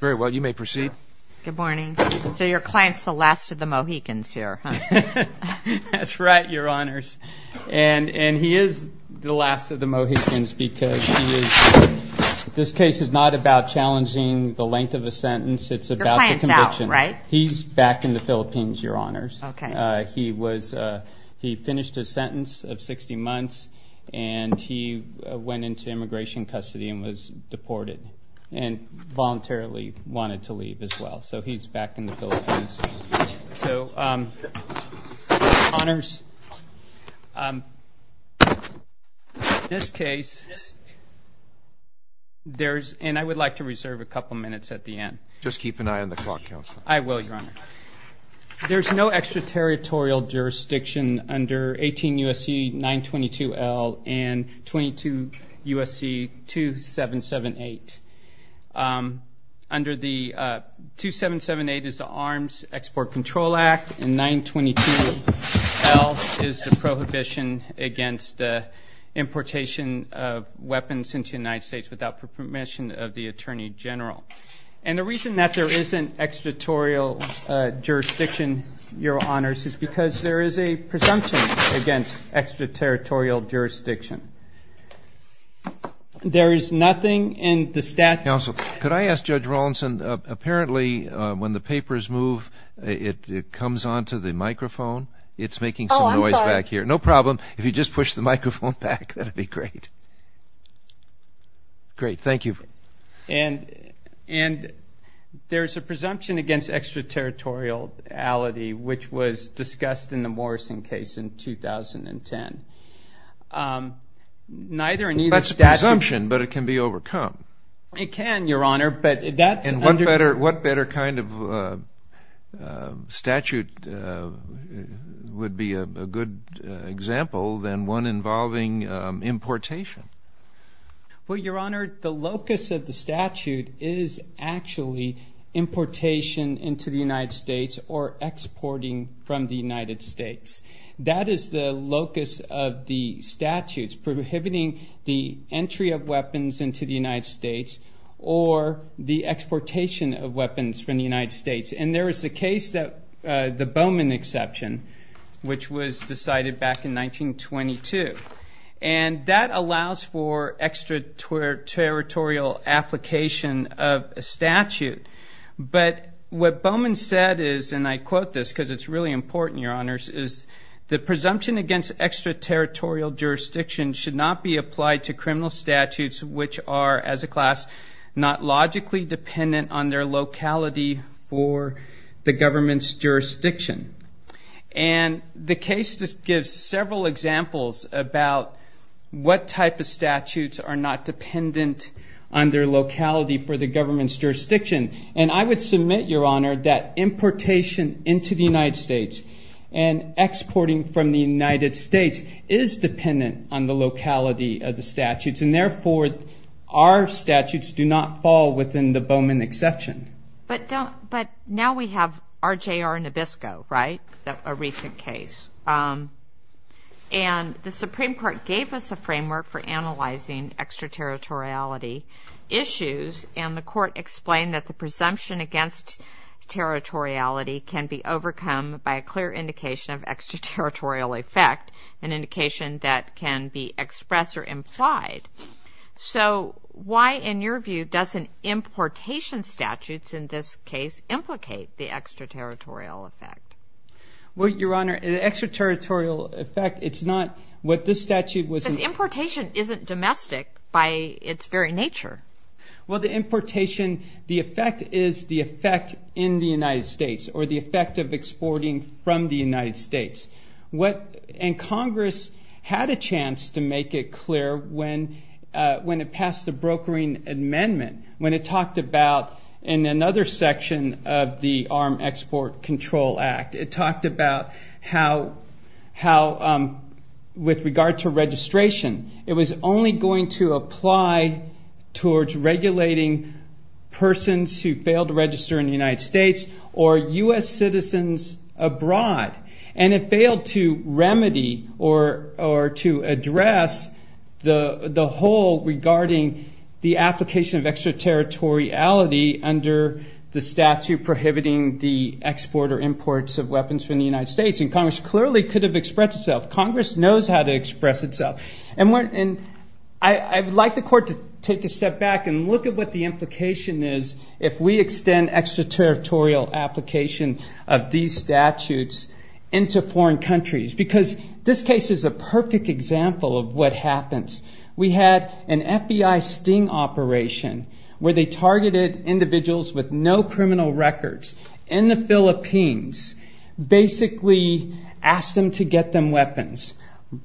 very well you may proceed good morning so your clients the last of the Mohicans here that's right your honors and and he is the last of the Mohicans because this case is not about challenging the length of a sentence it's about right he's back in the Philippines your honors okay he was he finished a sentence of 60 months and he went into immigration custody and was deported and voluntarily wanted to leave as well so he's back in the Philippines so honors this case there's and I would like to reserve a couple minutes at the end just keep an eye on the clock counselor I will your honor there's no extraterritorial jurisdiction under 18 USC 922 L and 22 USC 2778 under the 2778 is the Arms Export Control Act and 922 L is the prohibition against importation of weapons into United States without permission of the Attorney General and the reason that there isn't extraterritorial jurisdiction your honors is because there is a presumption against extraterritorial jurisdiction there is nothing in the statute also could I ask judge Rawlinson apparently when the papers move it comes on to the microphone it's making some noise back here no problem if you just push the microphone back that'd be great great thank you and and there's a presumption against extraterritorial ality which was discussed in the Morrison case in 2010 neither and that's a presumption but it can be overcome it can your honor but that's and what better what better kind of statute would be a good example than one involving importation well your honor the locus of the statute is actually importation into the United States or exporting from the United States that is the locus of the statutes prohibiting the entry of weapons into the United States or the exportation of weapons from the United States and there is a case that the Bowman exception which was decided back in 1922 and that allows for extraterritorial application of a statute but what Bowman said is and I quote this because it's really important your honors is the presumption against extraterritorial jurisdiction should not be applied to criminal statutes which are as a class not logically dependent on their locality for the government's jurisdiction and the case just gives several examples about what type of their locality for the government's jurisdiction and I would submit your honor that importation into the United States and exporting from the United States is dependent on the locality of the statutes and therefore our statutes do not fall within the Bowman exception but now we have RJR Nabisco right a recent case and the Supreme Court gave us a framework for analyzing extraterritoriality issues and the court explained that the presumption against territoriality can be overcome by a clear indication of extraterritorial effect an indication that can be expressed or implied so why in your view doesn't importation statutes in this case implicate the extraterritorial effect what your honor extraterritorial effect it's not what the statute was importation isn't domestic by its very nature well the importation the effect is the effect in the United States or the effect of exporting from the United States what and Congress had a chance to make it clear when when it passed the brokering amendment when it talked about in another section of the Arm Export Control Act it talked about how how with regard to registration it was only going to apply towards regulating persons who fail to register in the United States or US citizens abroad and it failed to remedy or or to address the the whole regarding the application of extraterritoriality under the statute prohibiting the export or imports of weapons from the United States and Congress clearly could have expressed itself Congress knows how to express itself and we're in I would like the court to take a step back and look at what the implication is if we extend extraterritorial application of these statutes into foreign countries because this case is a perfect example of what happens we had an FBI sting operation where they targeted individuals with no criminal records in the Philippines basically asked them to get them weapons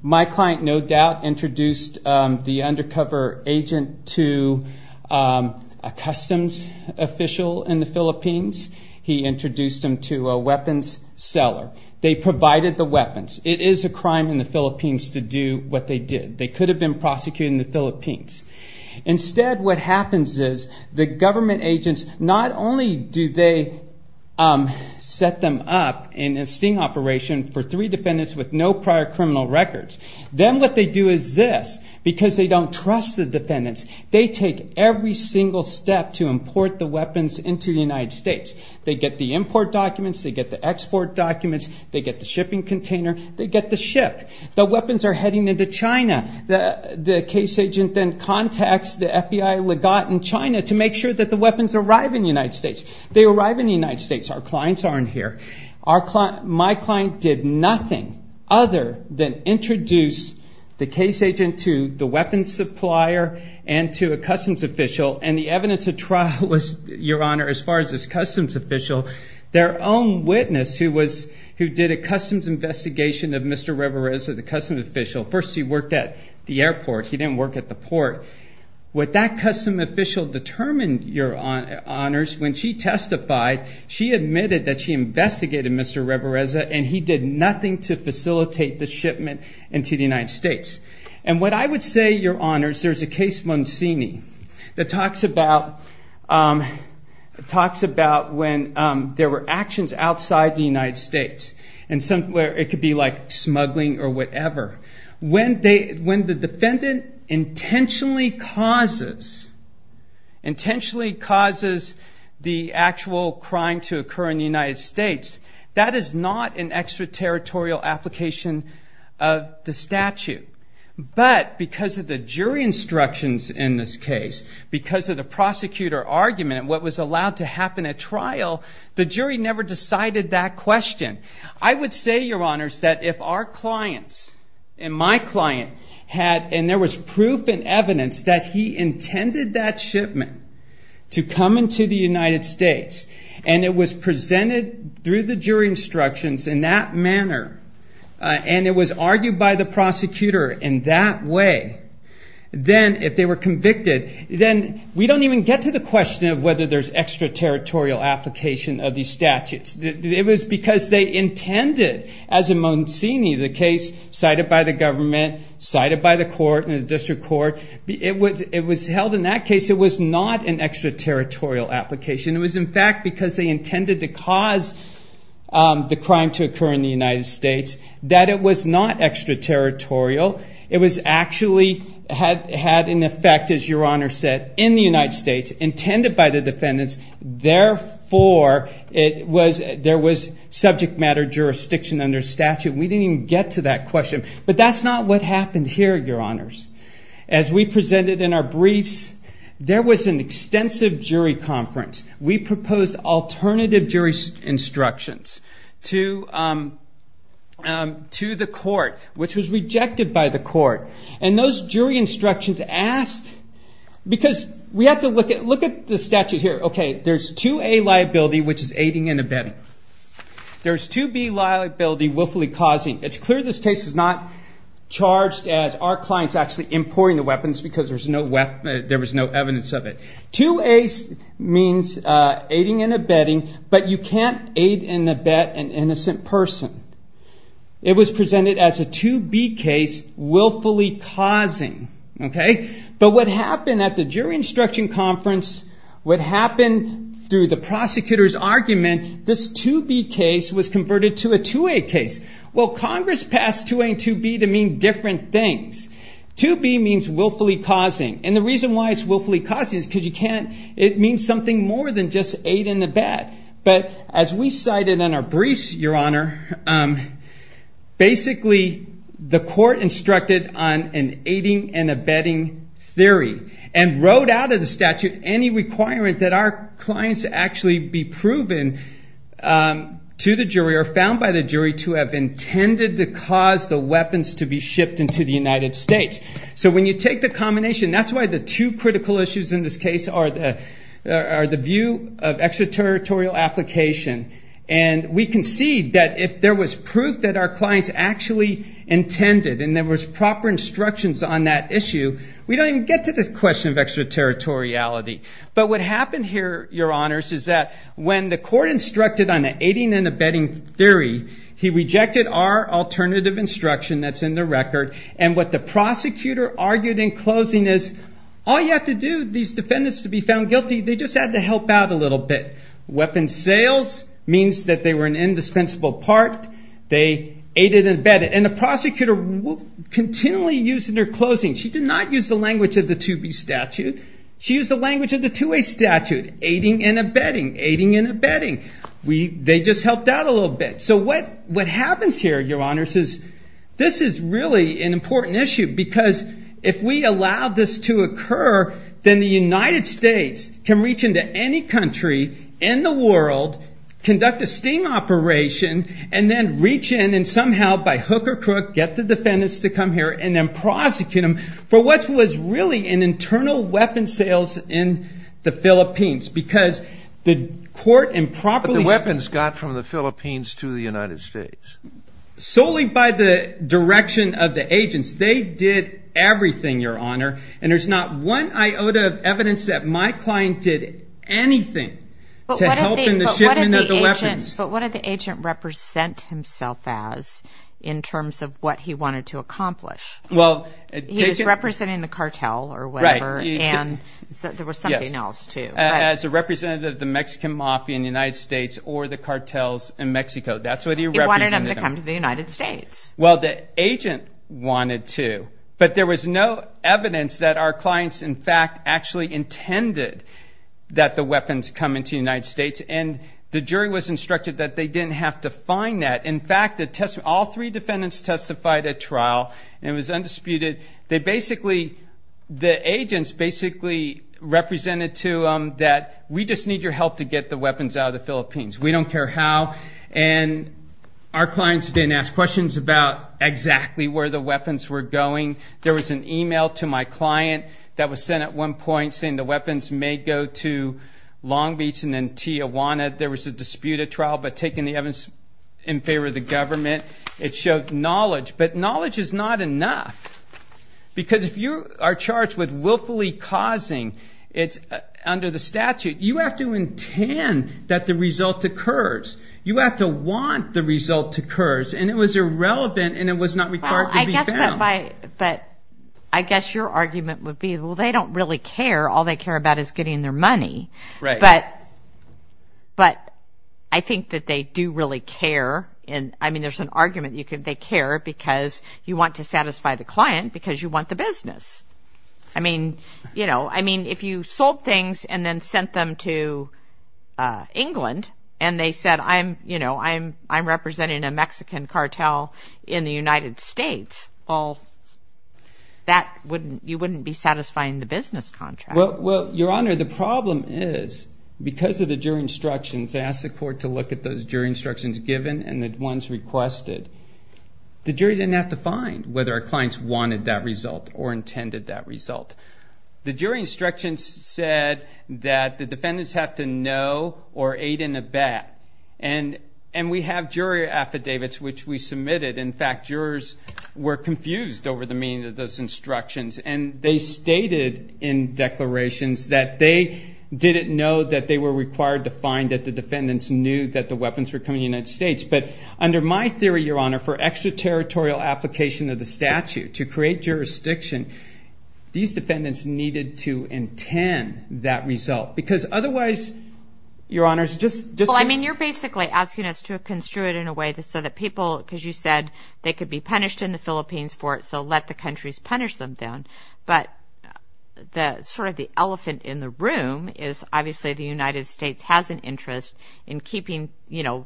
my client no doubt introduced the undercover agent to a customs official in the Philippines he introduced him to a weapons seller they provided the weapons it is a crime in the Philippines to do what they did they could have been prosecuted in the Philippines instead what happens is the government agents not only do they set them up in a sting operation for three defendants with no prior criminal records then what they do is this because they don't trust the defendants they take every single step to import the weapons into the United States they get the import documents they get the export documents they get the shipping container they get the ship the weapons are heading into China the case agent then contacts the FBI legate in China to make sure that the weapons arrive in the United States our clients aren't here our client my client did nothing other than introduce the case agent to the weapons supplier and to a customs official and the evidence of trial was your honor as far as this customs official their own witness who was who did a customs investigation of Mr. Riverez of the customs official first he worked at the airport he didn't work at the port with that custom official determined your honors when she testified she admitted that she investigated Mr. Riverez and he did nothing to facilitate the shipment into the United States and what I would say your honors there's a case Monsignor that talks about talks about when there were actions outside the United States and some where it could be like smuggling or whatever when they when the defendant intentionally causes intentionally causes the actual crime to occur in the United States that is not an extraterritorial application of the statute but because of the jury instructions in this case because of the prosecutor argument what was allowed to happen at trial the jury never decided that question I would say your honors that if our clients and my client had and there was proof and evidence that he to come into the United States and it was presented through the jury instructions in that manner and it was argued by the prosecutor in that way then if they were convicted then we don't even get to the question of whether there's extraterritorial application of the statutes it was because they intended as a Monsignor the case cited by the government cited by the court in the district court it was it was held in that case it was not an extraterritorial application it was in fact because they intended to cause the crime to occur in the United States that it was not extraterritorial it was actually had had an effect as your honor said in the United States intended by the defendants therefore it was there was subject matter jurisdiction under statute we didn't get to that question but that's not what happened here your honors as we presented in our briefs there was an extensive jury conference we proposed alternative jury instructions to to the court which was rejected by the court and those jury instructions asked because we have to look at look at the statute here okay there's to a liability which is aiding and abetting there's to be liability willfully causing it's clear this case is not charged as our clients actually importing the weapons because there's no weapon there was no evidence of it to a means aiding and abetting but you can't aid and abet an innocent person it was presented as a to be case willfully causing okay but what happened at the jury instruction conference would happen to the prosecutors argument this to be case was converted to a to a case well Congress passed to a to be to mean different things to be means willfully causing and the reason why it's willfully causing is because you can't it means something more than just aid in the bed but as we cited in our briefs your honor basically the court instructed on an aiding and abetting theory and wrote out of the statute any requirement that our clients actually be to the jury or found by the jury to have intended to cause the weapons to be shipped into the United States so when you take the combination that's why the two critical issues in this case are the are the view of extraterritorial application and we can see that if there was proof that our clients actually intended and there was proper instructions on that issue we don't even get to this question of extraterritoriality but what happened here your honors is that when the court instructed on the aiding and abetting theory he rejected our alternative instruction that's in the record and what the prosecutor argued in closing is all you have to do these defendants to be found guilty they just had to help out a little bit weapon sales means that they were an indispensable part they aided and abetted and the prosecutor continually using their closing she did not use the language of the to be statute she used the language of the to a statute aiding and abetting aiding and abetting we they just helped out a little bit so what what happens here your honors is this is really an important issue because if we allow this to occur then the United States can reach into any country in the world conduct a steam operation and then reach in and somehow by hook or crook get the defendants to come here and then prosecute them for what was really an internal weapon sales in the Philippines because the court improperly weapons got from the Philippines to the United States solely by the direction of the agents they did everything your honor and there's not one iota of evidence that my client did anything but what are the agent represent himself as in terms of what he wanted to accomplish well he's representing the cartel or whatever and there was something else to as a representative of the Mexican mafia in United States or the cartels in Mexico that's what he wanted to come to the United States well the agent wanted to but there was no evidence that our clients in fact actually intended that the weapons come into United States and the jury was instructed that they didn't have to find that in fact the test all three defendants testified at trial and was undisputed they basically the agents basically represented to them that we just need your help to get the weapons out of the Philippines we don't care how and our clients didn't ask questions about exactly where the weapons were going there was an email to my client that was sent at one point saying the weapons may go to Long Beach and then Tijuana there was a disputed trial but taking the evidence in favor of the government it showed knowledge but knowledge is not enough because if you are charged with willfully causing it's under the statute you have to intend that the result occurs you have to want the result occurs and it was irrelevant and it was not required I guess but I guess your argument would be well they don't really care all they care about is getting their money right but but I think that they do really care and I mean there's an argument you could they care because you want to satisfy the client because you want the business I mean you know I mean if you sold things and then sent them to England and they said I'm you know I'm I'm representing a Mexican cartel in the United States all that wouldn't you wouldn't be satisfying the business contract well well your honor the problem is because of the jury instructions ask the court to look at those jury instructions given and the ones requested the jury didn't have to find whether our clients wanted that result or intended that result the jury instructions said that the defendants have to know or aid in a bet and and we have jury affidavits which we submitted in fact jurors were confused over the meaning of those instructions and they stated in declarations that they didn't know that they were required to find that the that the weapons were coming United States but under my theory your honor for extraterritorial application of the statute to create jurisdiction these defendants needed to intend that result because otherwise your honors just just I mean you're basically asking us to construe it in a way that so that people because you said they could be punished in the Philippines for it so let the country's punish them down but the sort of the elephant in the room is obviously the United States has an interest in keeping you know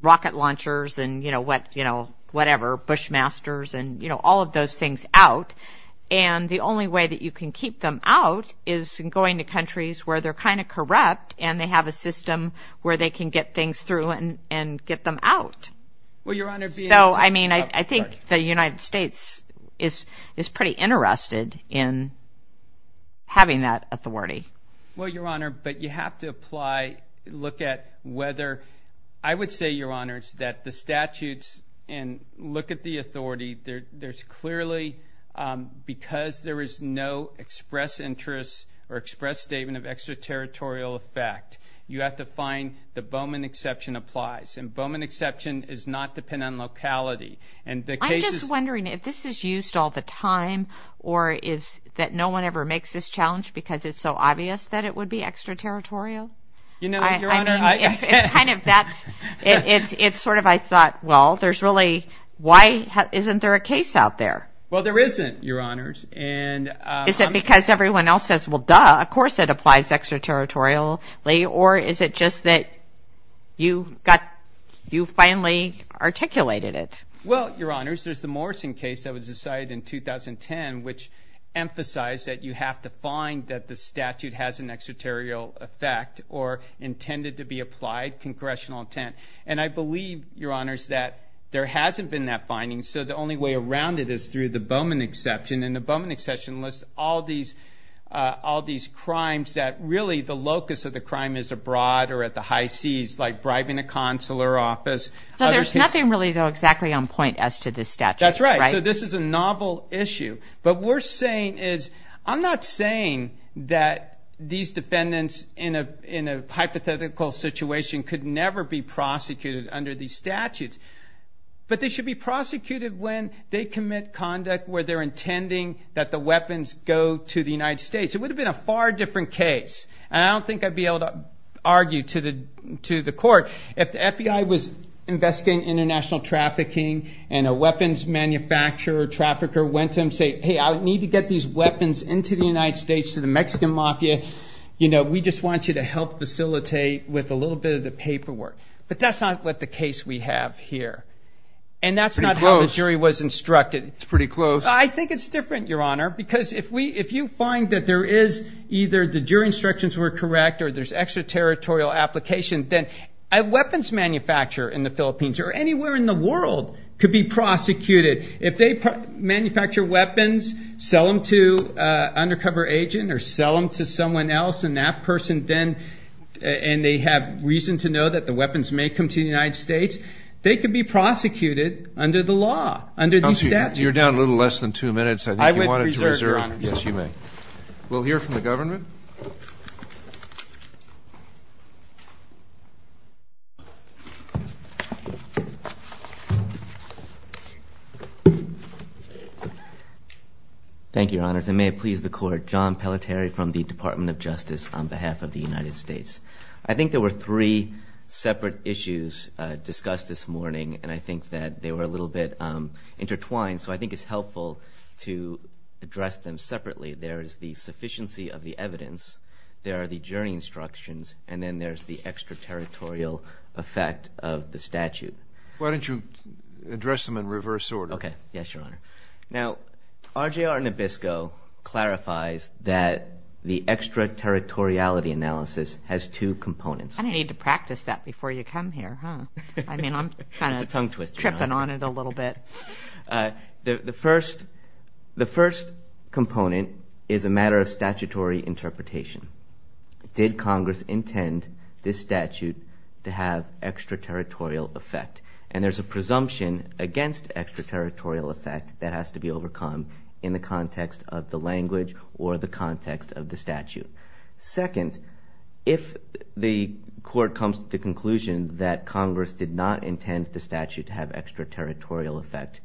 rocket launchers and you know what you know whatever bushmasters and you know all of those things out and the only way that you can keep them out is going to countries where they're kind of corrupt and they have a system where they can get things through and and get them out so I mean I think the United States is is pretty interested in having that authority well your honor but you have to apply look at whether I would say your honors that the statutes and look at the authority there there's clearly because there is no express interest or express statement of extraterritorial effect you have to find the Bowman exception applies and Bowman exception is not depend on locality and the case is wondering if this is used all the time or is that no one ever makes this challenge because it's so obvious that it would be extraterritorial you know that it's it's sort of I thought well there's really why isn't there a case out there well there isn't your honors and is it because everyone else says well duh of course it applies extraterritorial or is it just that you got you finally articulated it well your honors there's the Morrison case that was decided in 2010 which emphasized that you have to find that the statute has an extraterritorial effect or intended to be applied congressional intent and I believe your honors that there hasn't been that finding so the only way around it is through the Bowman exception and the Bowman exception lists all these all these crimes that really the locus of the crime is abroad or at the high seas like bribing a consular office so there's nothing really go exactly on point as to this statute that's right so this is a novel issue but we're saying is I'm not saying that these defendants in a in a hypothetical situation could never be prosecuted under these statutes but they should be prosecuted when they commit conduct where they're intending that the weapons go to the United States it would have been a far different case and I to the court if the FBI was investigating international trafficking and a weapons manufacturer trafficker went to him say hey I need to get these weapons into the United States to the Mexican Mafia you know we just want you to help facilitate with a little bit of the paperwork but that's not what the case we have here and that's not how the jury was instructed it's pretty close I think it's different your honor because if we if you find that there is either did your instructions were correct or there's extraterritorial application then a weapons manufacturer in the Philippines or anywhere in the world could be prosecuted if they manufacture weapons sell them to undercover agent or sell them to someone else and that person then and they have reason to know that the weapons may come to the United States they could be prosecuted under the law under the statute you're down a little less than two minutes I would reserve your honor yes you may we'll hear from the government thank you honors and may it please the court John Pelletier from the Department of Justice on behalf of the United States I think there were three separate issues discussed this morning and I think that they were a little bit intertwined so I addressed them separately there is the sufficiency of the evidence there are the jury instructions and then there's the extraterritorial effect of the statute why don't you address them in reverse order okay yes your honor now RJR Nabisco clarifies that the extraterritoriality analysis has two components I need to practice that before you come here huh I mean I'm kind of tripping on it a little bit the first the first component is a matter of statutory interpretation did Congress intend this statute to have extraterritorial effect and there's a presumption against extraterritorial effect that has to be overcome in the context of the language or the context of the statute second if the court comes to the conclusion that Congress did not intend the statute to have extraterritorial effect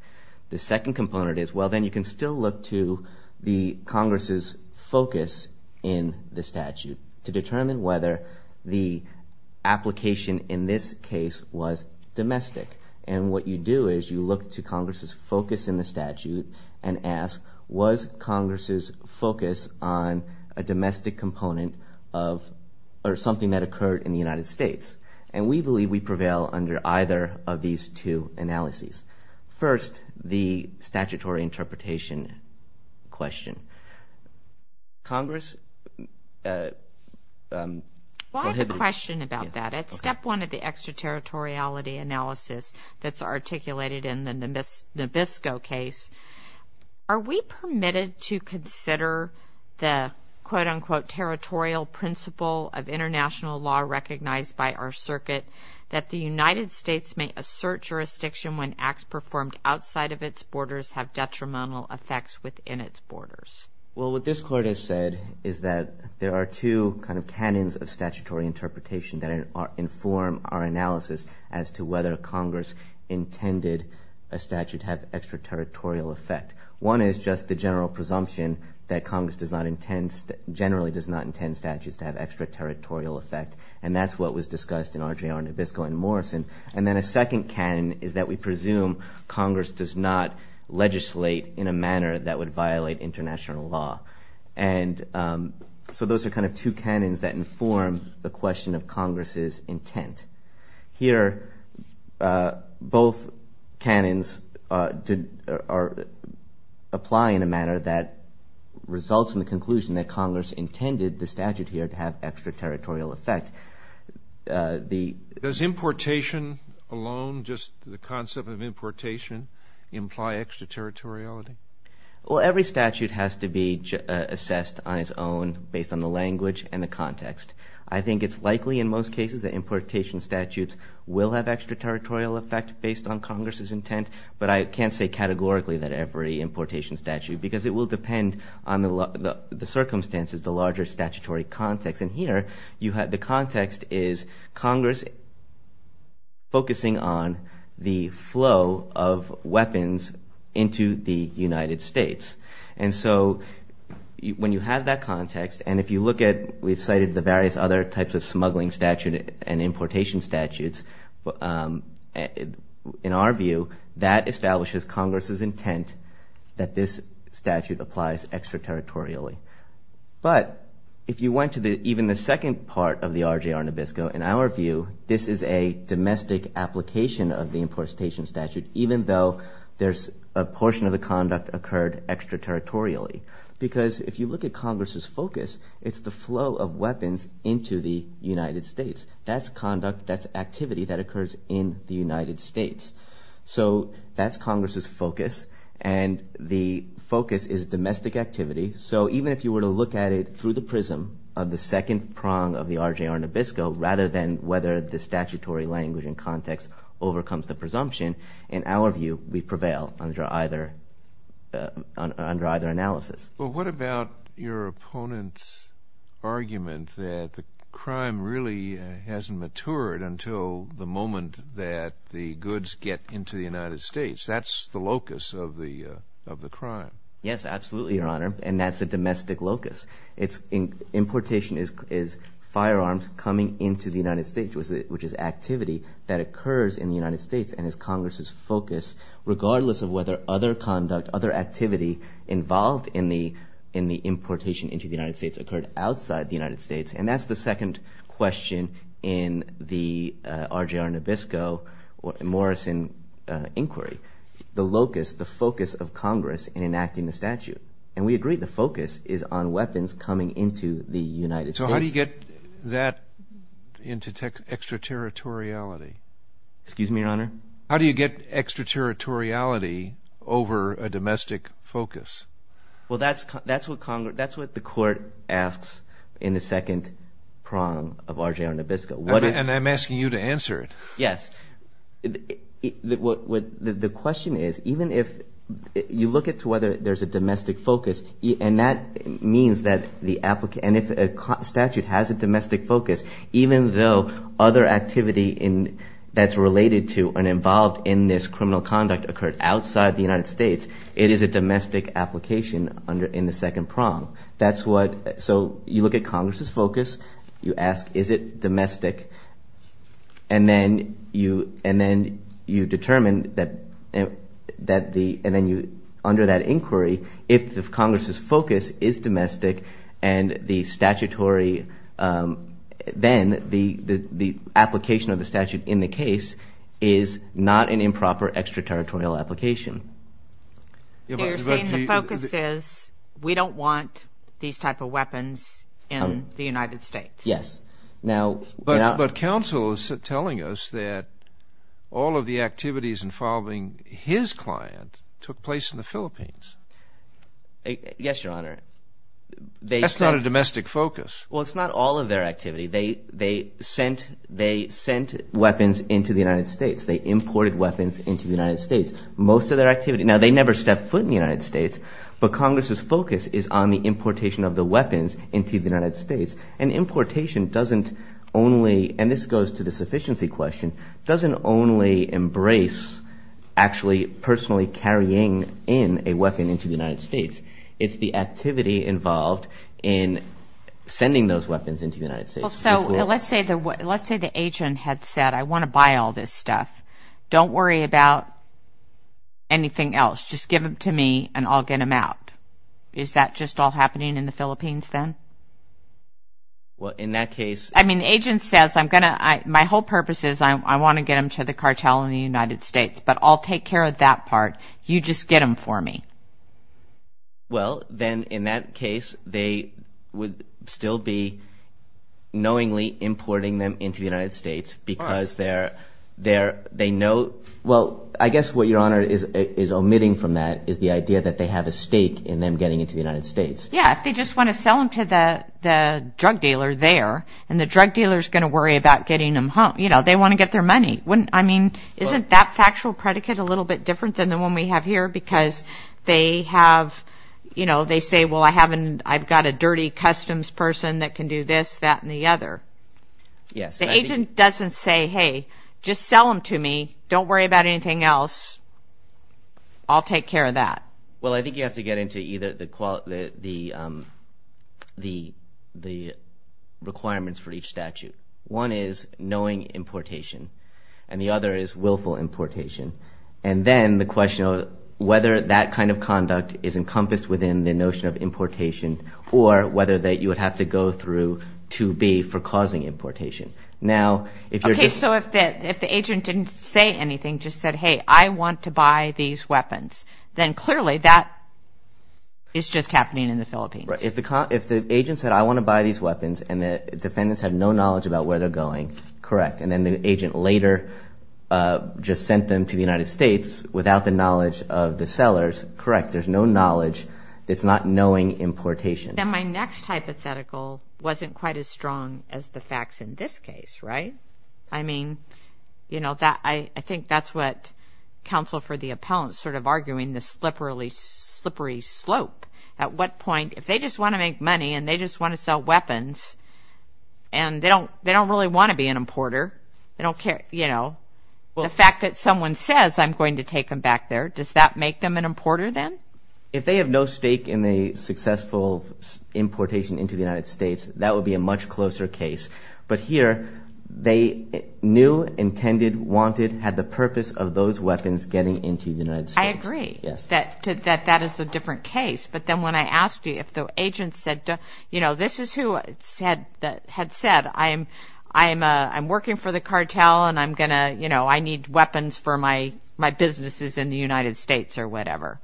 the second component is well then you can still look to the Congress's focus in the statute to determine whether the application in this case was domestic and what you do is you look to Congress's focus in the statute and ask was Congress's focus on a domestic component of or something that occurred in the United States and we believe we prevail under either of these two analyses first the statutory interpretation question Congress question about that it's step one of the extraterritoriality analysis that's articulated in the Nabisco case are we permitted to consider the quote national law recognized by our circuit that the United States may assert jurisdiction when acts performed outside of its borders have detrimental effects within its borders well what this court has said is that there are two kind of canons of statutory interpretation that inform our analysis as to whether Congress intended a statute have extraterritorial effect one is just the general presumption that Congress does not intend generally does not intend statutes to have extraterritorial effect and that's what was discussed in RJR Nabisco and Morrison and then a second canon is that we presume Congress does not legislate in a manner that would violate international law and so those are kind of two canons that inform the question of Congress's intent here both canons did or apply in a manner that results in the conclusion that statute here to have extraterritorial effect the does importation alone just the concept of importation imply extraterritoriality well every statute has to be assessed on its own based on the language and the context I think it's likely in most cases that importation statutes will have extraterritorial effect based on Congress's intent but I can't say categorically that every importation statute because it will depend on the circumstances the larger statutory context and here you had the context is Congress focusing on the flow of weapons into the United States and so when you have that context and if you look at we've cited the various other types of smuggling statute and importation statutes but in our view that establishes Congress's intent that this statute applies extraterritorially but if you went to the even the second part of the RJR Nabisco in our view this is a domestic application of the importation statute even though there's a portion of the conduct occurred extraterritorially because if you look at Congress's focus it's the flow of weapons into the United States that's conduct that's activity that occurs in the United States so that's Congress's focus and the focus is domestic activity so even if you were to look at it through the prism of the second prong of the RJR Nabisco rather than whether the statutory language and context overcomes the presumption in our view we prevail under either under either analysis. Well what about your opponent's argument that the crime really hasn't matured until the moment that the goods get into the United States that's the locus of the of the crime. Yes absolutely your honor and that's a domestic locus it's in importation is is firearms coming into the United States was it which is activity that occurs in the United States and as Congress's focus regardless of whether other conduct other activity involved in the in the importation into the United States occurred outside the United States and that's the second question in the RJR Nabisco or Morrison inquiry the locus the focus of Congress in enacting the statute and we agree the focus is on weapons coming into the United States. So how do you get that into extraterritoriality? Excuse me your honor. How do you get extraterritoriality over a domestic focus? Well that's that's what Congress that's what the court asks in the second prong of RJR Nabisco. And I'm asking you to answer it. Yes the question is even if you look at to whether there's a domestic focus and that means that the applicant and if a statute has a domestic focus even though other activity in that's related to and involved in this criminal conduct occurred outside the United States it is a domestic application under in the second prong. That's what so you look at Congress's focus you ask is it domestic and then you and then you determine that that the and then you under that inquiry if the Congress's focus is domestic and the statutory then the the application of the statute in the case is not an we don't want these type of weapons in the United States. Yes now but but counsel is telling us that all of the activities involving his client took place in the Philippines. Yes your honor. That's not a domestic focus. Well it's not all of their activity they they sent they sent weapons into the United States they imported weapons into the United States most of their activity now they never stepped foot in the United States but Congress's focus is on the importation of the weapons into the United States and importation doesn't only and this goes to the sufficiency question doesn't only embrace actually personally carrying in a weapon into the United States it's the activity involved in sending those weapons into the United States. So let's say the what let's say the agent had said I want to buy all this stuff don't worry about anything else just give them to me and I'll get them out. Is that just all happening in the Philippines then? Well in that case. I mean the agent says I'm gonna I my whole purpose is I want to get them to the cartel in the United States but I'll take care of that part you just get them for me. Well then in that case they would still be knowingly importing them into the United States because they're there they know well I guess what your honor is omitting from that is the idea that they have a stake in them getting into the United States. Yeah if they just want to sell them to the drug dealer there and the drug dealer is going to worry about getting them home you know they want to get their money wouldn't I mean isn't that factual predicate a little bit different than the one we have here because they have you know they say well I haven't I've got a dirty customs person that can do this that and the other. Yes. The agent doesn't say hey just sell them to me don't worry about anything else I'll take care of that. Well I think you have to get into either the quality the the the requirements for each statute. One is knowing importation and the other is willful importation and then the question of whether that kind of conduct is encompassed within the notion of importation or whether that you would have to go through to be for say anything just said hey I want to buy these weapons then clearly that is just happening in the Philippines. If the agent said I want to buy these weapons and the defendants have no knowledge about where they're going correct and then the agent later just sent them to the United States without the knowledge of the sellers correct there's no knowledge it's not knowing importation. And my next hypothetical wasn't quite as strong as the facts in this case right? I mean you know that I I think that's what counsel for the appellant sort of arguing the slippery slippery slope at what point if they just want to make money and they just want to sell weapons and they don't they don't really want to be an importer they don't care you know the fact that someone says I'm going to take them back there does that make them an importer then? If they have no stake in the successful importation into the United States that would be a much closer case but here they knew intended wanted had the purpose of those weapons getting into the United States. I agree yes that that that is a different case but then when I asked you if the agent said you know this is who said that had said I am I am I'm working for the cartel and I'm gonna you know I need weapons for my my businesses in the United States or whatever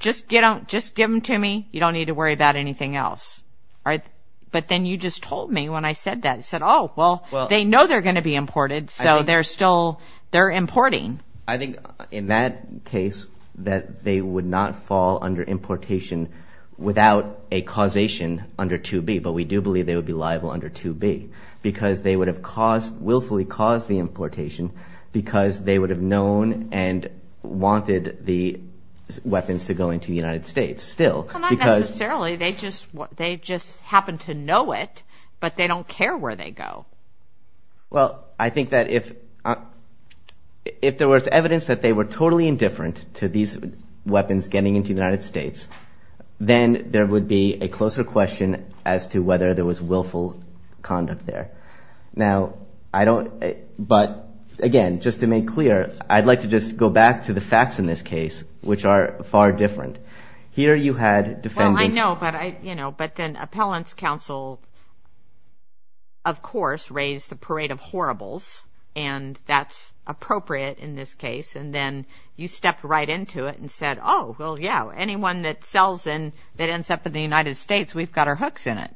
just get out just give them to me you don't need to worry about anything else right but then you just told me when I said that said oh well they know they're gonna be imported so they're still they're importing. I think in that case that they would not fall under importation without a causation under 2b but we do believe they would be liable under 2b because they would have caused willfully caused the importation because they would have known and wanted the weapons to go into the United States still because they just they just happen to know it but they don't care where they go. Well I think that if if there was evidence that they were totally indifferent to these weapons getting into the United States then there would be a closer question as to whether there was willful conduct there. Now I don't but again just to make clear I'd like to just go back to the facts in this case which are far different here you had defendants. I know but I you know but then appellants counsel of course raised the parade of horribles and that's appropriate in this case and then you stepped right into it and said oh well yeah anyone that sells in that ends up in the United States we've got our hooks in it.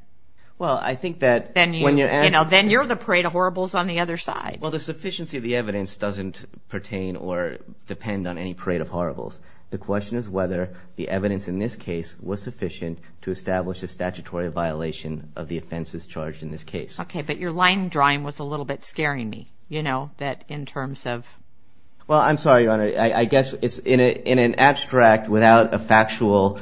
Well I think that then you know then you're the parade of horribles on the other side. Well the sufficiency of the evidence doesn't pertain or depend on any parade of horribles. The question is whether the evidence in this case was sufficient to establish a statutory violation of the offenses charged in this case. Okay but your line drawing was a little bit scaring me you know that in terms of. Well I'm sorry your honor I guess it's in it in an abstract without a factual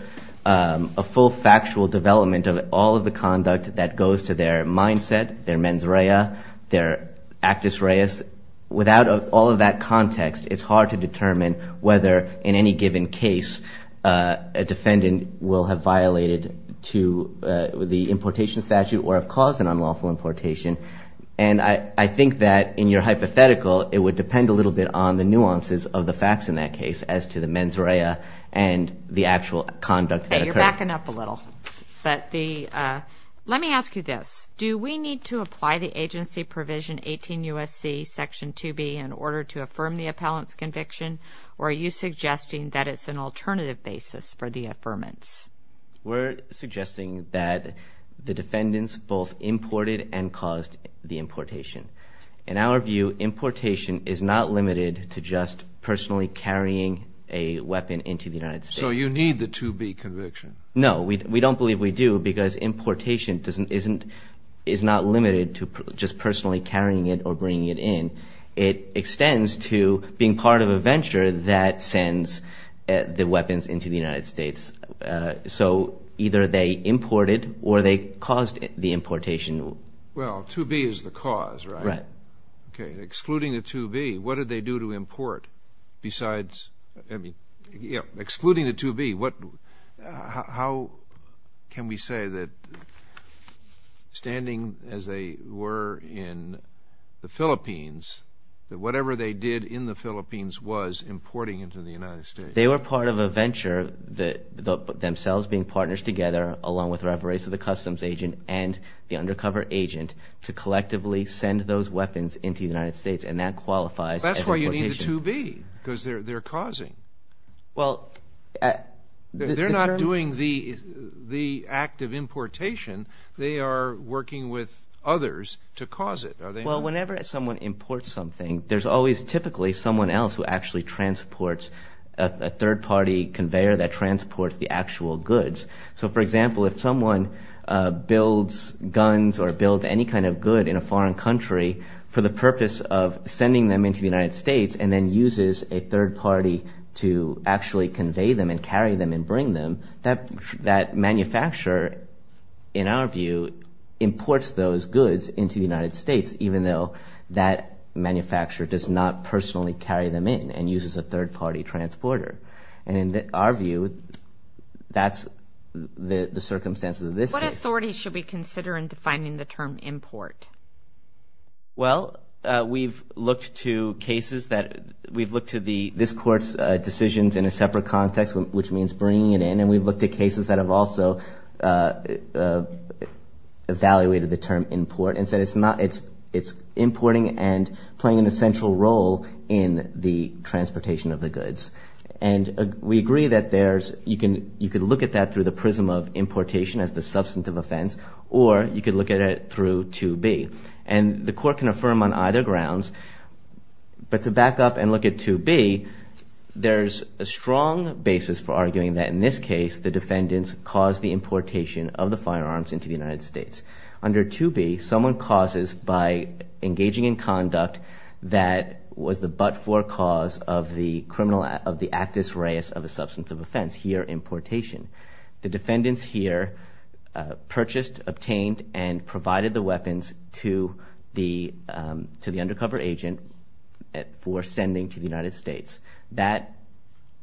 a full factual development of all of the conduct that goes to their mindset their mens rea their actus reis without all of that context it's hard to determine whether in any given case a defendant will have violated to the importation statute or have caused an unlawful importation and I I think that in your hypothetical it would depend a little bit on the nuances of the facts in that case as to the mens rea and the actual conduct. You're backing up a little but the let me ask you this do we need to apply the agency provision 18 USC section 2B in order to affirm the appellant's conviction or are you suggesting that it's an alternative basis for the affirmance? We're suggesting that the defendants both imported and caused the importation. In our view importation is not limited to just personally carrying a weapon into the United States. So you need the 2B conviction? No we don't believe we do because importation doesn't isn't is not limited to just personally carrying it or bringing it in. It extends to being part of a venture that sends the weapons into the United States. So either they imported or they caused the importation. Well 2B is the cause right? Right. Okay excluding the 2B what did they do to import besides I mean yeah excluding the 2B what how can we say that standing as they were in the Philippines that whatever they did in the Philippines was importing into the United States? They were part of a venture that themselves being partners together along with Ravarese the customs agent and the undercover agent to collectively send those weapons into the United States and that qualifies. That's why you need the 2B because they're they're causing. Well they're not doing the the act of importation they are working with others to cause it. Well whenever someone imports something there's always typically someone else who actually transports a third-party conveyor that transports the actual goods. So for example if someone builds guns or builds any kind of good in a foreign country for the purpose of sending them into the United States and then uses a third party to actually convey them and carry them and bring them that that manufacturer in our view imports those goods into the United States even though that manufacturer does not personally carry them in and uses a third-party transporter. And in our view that's the the circumstances of this case. What authority should we consider in defining the term import? Well we've looked to cases that we've looked to the this court's decisions in a separate context which means bringing it in and we've looked at cases that have also evaluated the term import and said it's not it's it's importing and playing an essential role in the transportation of the goods. And we agree that there's you can you could look at that through the prism of importation as the substantive offense or you could look at it through 2b and the court can affirm on either grounds but to back up and look at 2b there's a strong basis for arguing that in this case the defendants caused the importation of the firearms into the United States. Under 2b someone causes by engaging in conduct that was the but-for cause of the criminal act of the actus reus of a substantive offense here importation. The defendants here purchased, obtained, and provided the weapons to the to the undercover agent for sending to the United States. That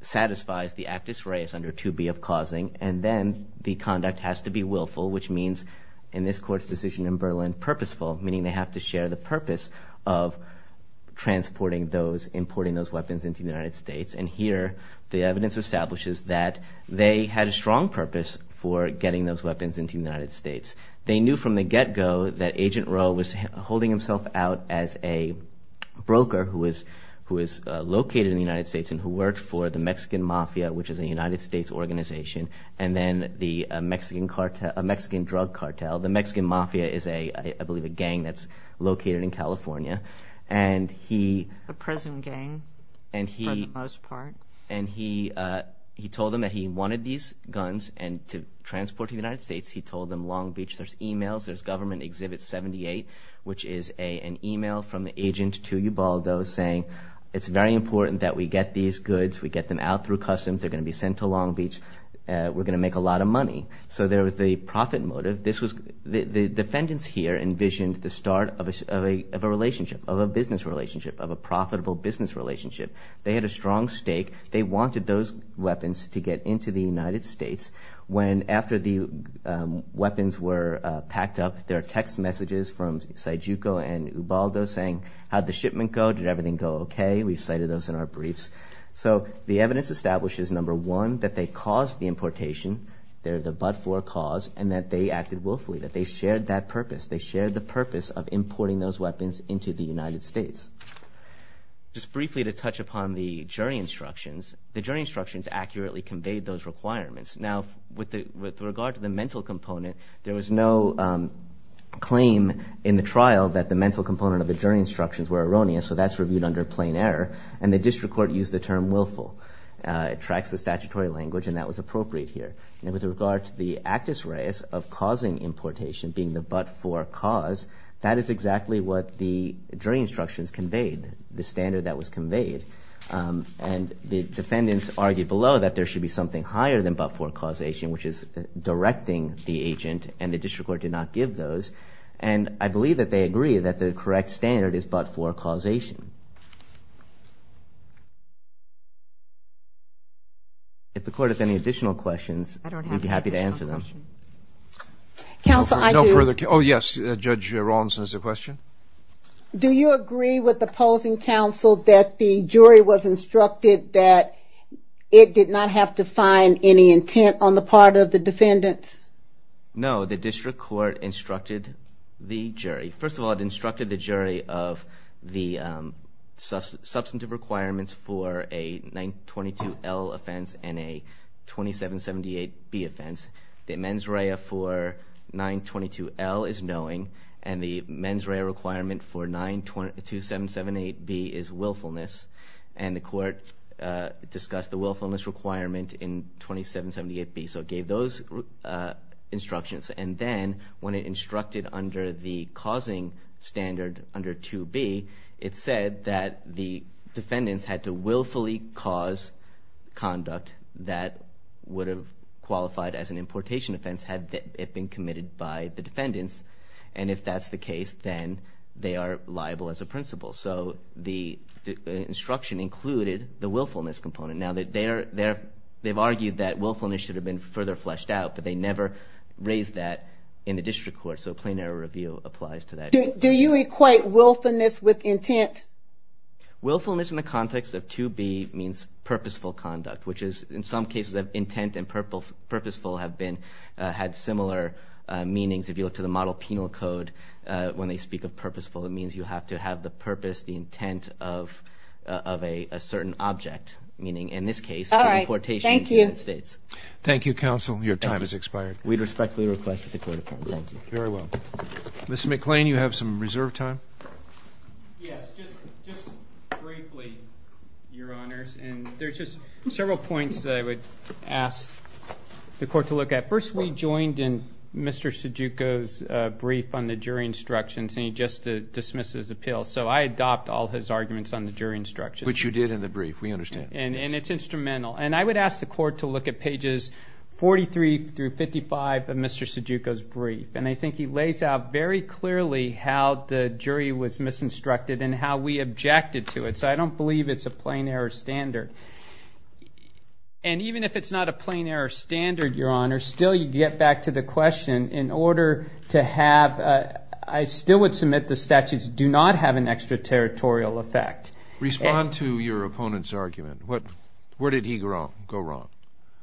satisfies the actus reus under 2b of causing and then the conduct has to be willful which means in this court's decision in Berlin purposeful meaning they have to share the purpose of transporting those importing those they had a strong purpose for getting those weapons into the United States. They knew from the get-go that agent Rowe was holding himself out as a broker who is who is located in the United States and who worked for the Mexican Mafia which is a United States organization and then the Mexican cartel a Mexican drug cartel the Mexican Mafia is a I believe a gang that's located in and to transport to the United States he told them Long Beach there's emails there's government exhibit 78 which is a an email from the agent to Ubaldo saying it's very important that we get these goods we get them out through customs they're gonna be sent to Long Beach we're gonna make a lot of money so there was the profit motive this was the defendants here envisioned the start of a relationship of a business relationship of a profitable business relationship they had a strong stake they wanted those weapons to get into the United States when after the weapons were packed up there are text messages from Sajuco and Ubaldo saying how'd the shipment go did everything go okay we've cited those in our briefs so the evidence establishes number one that they caused the importation they're the but-for cause and that they acted willfully that they shared that purpose they shared the purpose of importing those weapons into the United States. Just briefly to touch upon the jury instructions the jury instructions accurately conveyed those requirements now with the with regard to the mental component there was no claim in the trial that the mental component of the jury instructions were erroneous so that's reviewed under plain error and the district court used the term willful it tracks the statutory language and that was appropriate here and with regard to the actus reus of causing importation being the but-for cause that is exactly what the jury instructions conveyed the standard that was conveyed and the defendants argued below that there should be something higher than but-for causation which is directing the agent and the district court did not give those and I believe that they agree that the correct standard is but-for causation. If the court has any additional questions I'd be happy to answer them. Counsel I do. Oh yes Judge Rawlinson has a question. Do you agree with the opposing counsel that the jury was instructed that it did not have to find any intent on the part of the defendants? No the district court instructed the jury first of all it instructed the jury of the substantive requirements for a 922 L offense and a 2778 B offense the mens rea for 922 L is 2778 B is willfulness and the court discussed the willfulness requirement in 2778 B so it gave those instructions and then when it instructed under the causing standard under 2B it said that the defendants had to willfully cause conduct that would have qualified as an importation offense had it been committed by the defendants and if that's the case then they are liable as the principal so the instruction included the willfulness component now that they're there they've argued that willfulness should have been further fleshed out but they never raised that in the district court so a plain error review applies to that. Do you equate willfulness with intent? Willfulness in the context of 2B means purposeful conduct which is in some cases of intent and purposeful have been had similar meanings if you look to the model penal code when they speak of purposeful it means you have to have the purpose the intent of of a certain object meaning in this case all right thank you thank you counsel your time is expired we'd respectfully request the court of very well miss McLean you have some reserve time several points that I just dismisses appeal so I adopt all his arguments on the jury instruction which you did in the brief we understand and it's instrumental and I would ask the court to look at pages 43 through 55 of mr. Sajuco's brief and I think he lays out very clearly how the jury was misinstructed and how we objected to it so I don't believe it's a plain error standard and even if it's not a plain I still would submit the statutes do not have an extraterritorial effect respond to your opponent's argument what where did he grow go wrong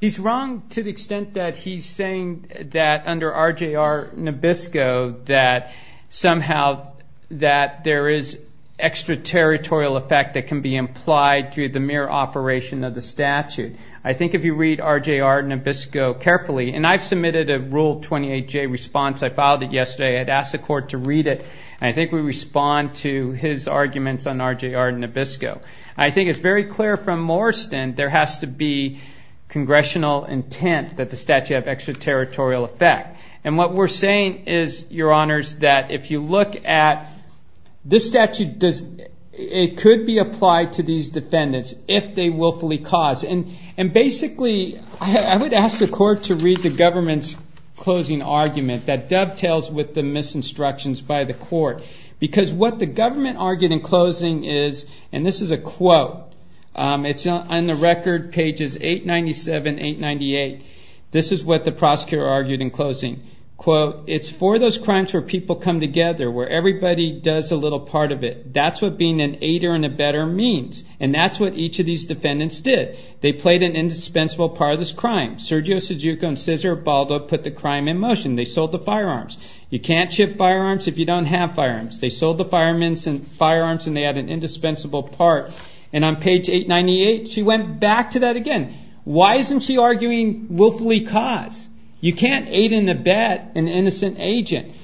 he's wrong to the extent that he's saying that under RJ are Nabisco that somehow that there is extraterritorial effect that can be implied through the mere operation of the statute I think if you read RJ are Nabisco carefully and I've submitted a rule 28 J response I filed it yesterday I'd ask the court to read it I think we respond to his arguments on RJ are Nabisco I think it's very clear from Morriston there has to be congressional intent that the statute of extraterritorial effect and what we're saying is your honors that if you look at this statute does it could be applied to these defendants if they willfully cause and and basically I would ask the court to read the government's closing argument that dovetails with the misinstructions by the court because what the government argued in closing is and this is a quote it's not on the record pages 897 898 this is what the prosecutor argued in closing quote it's for those crimes where people come together where everybody does a little part of it that's what being an aider and a better means and that's what each of these defendants did they played an indispensable part of this crime Sergio Sajuco and Cesar Baldo put the crime in motion they sold the firearms you can't ship firearms if you don't have firearms they sold the fireman's and firearms and they had an indispensable part and on page 898 she went back to that again why isn't she arguing willfully cause you can't aid in the bad and innocent agent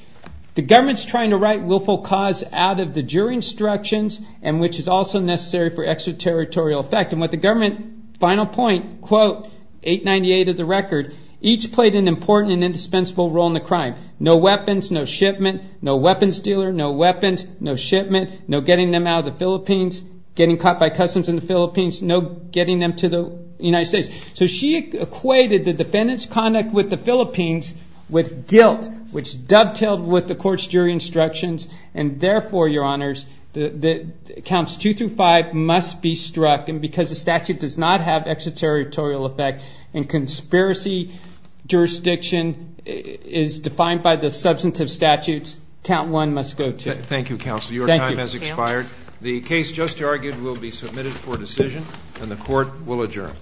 the government's trying to write willful cause out of the jury instructions and which is also necessary for extraterritorial effect and what the government final point quote 898 of the record each played an important and indispensable role in the crime no weapons no shipment no weapons dealer no weapons no shipment no getting them out of the Philippines getting caught by customs in the Philippines no getting them to the United States so she equated the defendants conduct with the Philippines with guilt which dovetailed with the court's jury instructions and therefore your honors the counts two through five must be struck and because the statute does not have extraterritorial effect and conspiracy jurisdiction is defined by the substantive statutes count one must go to thank you counsel your time has expired the case just argued will be submitted for decision and the court will adjourn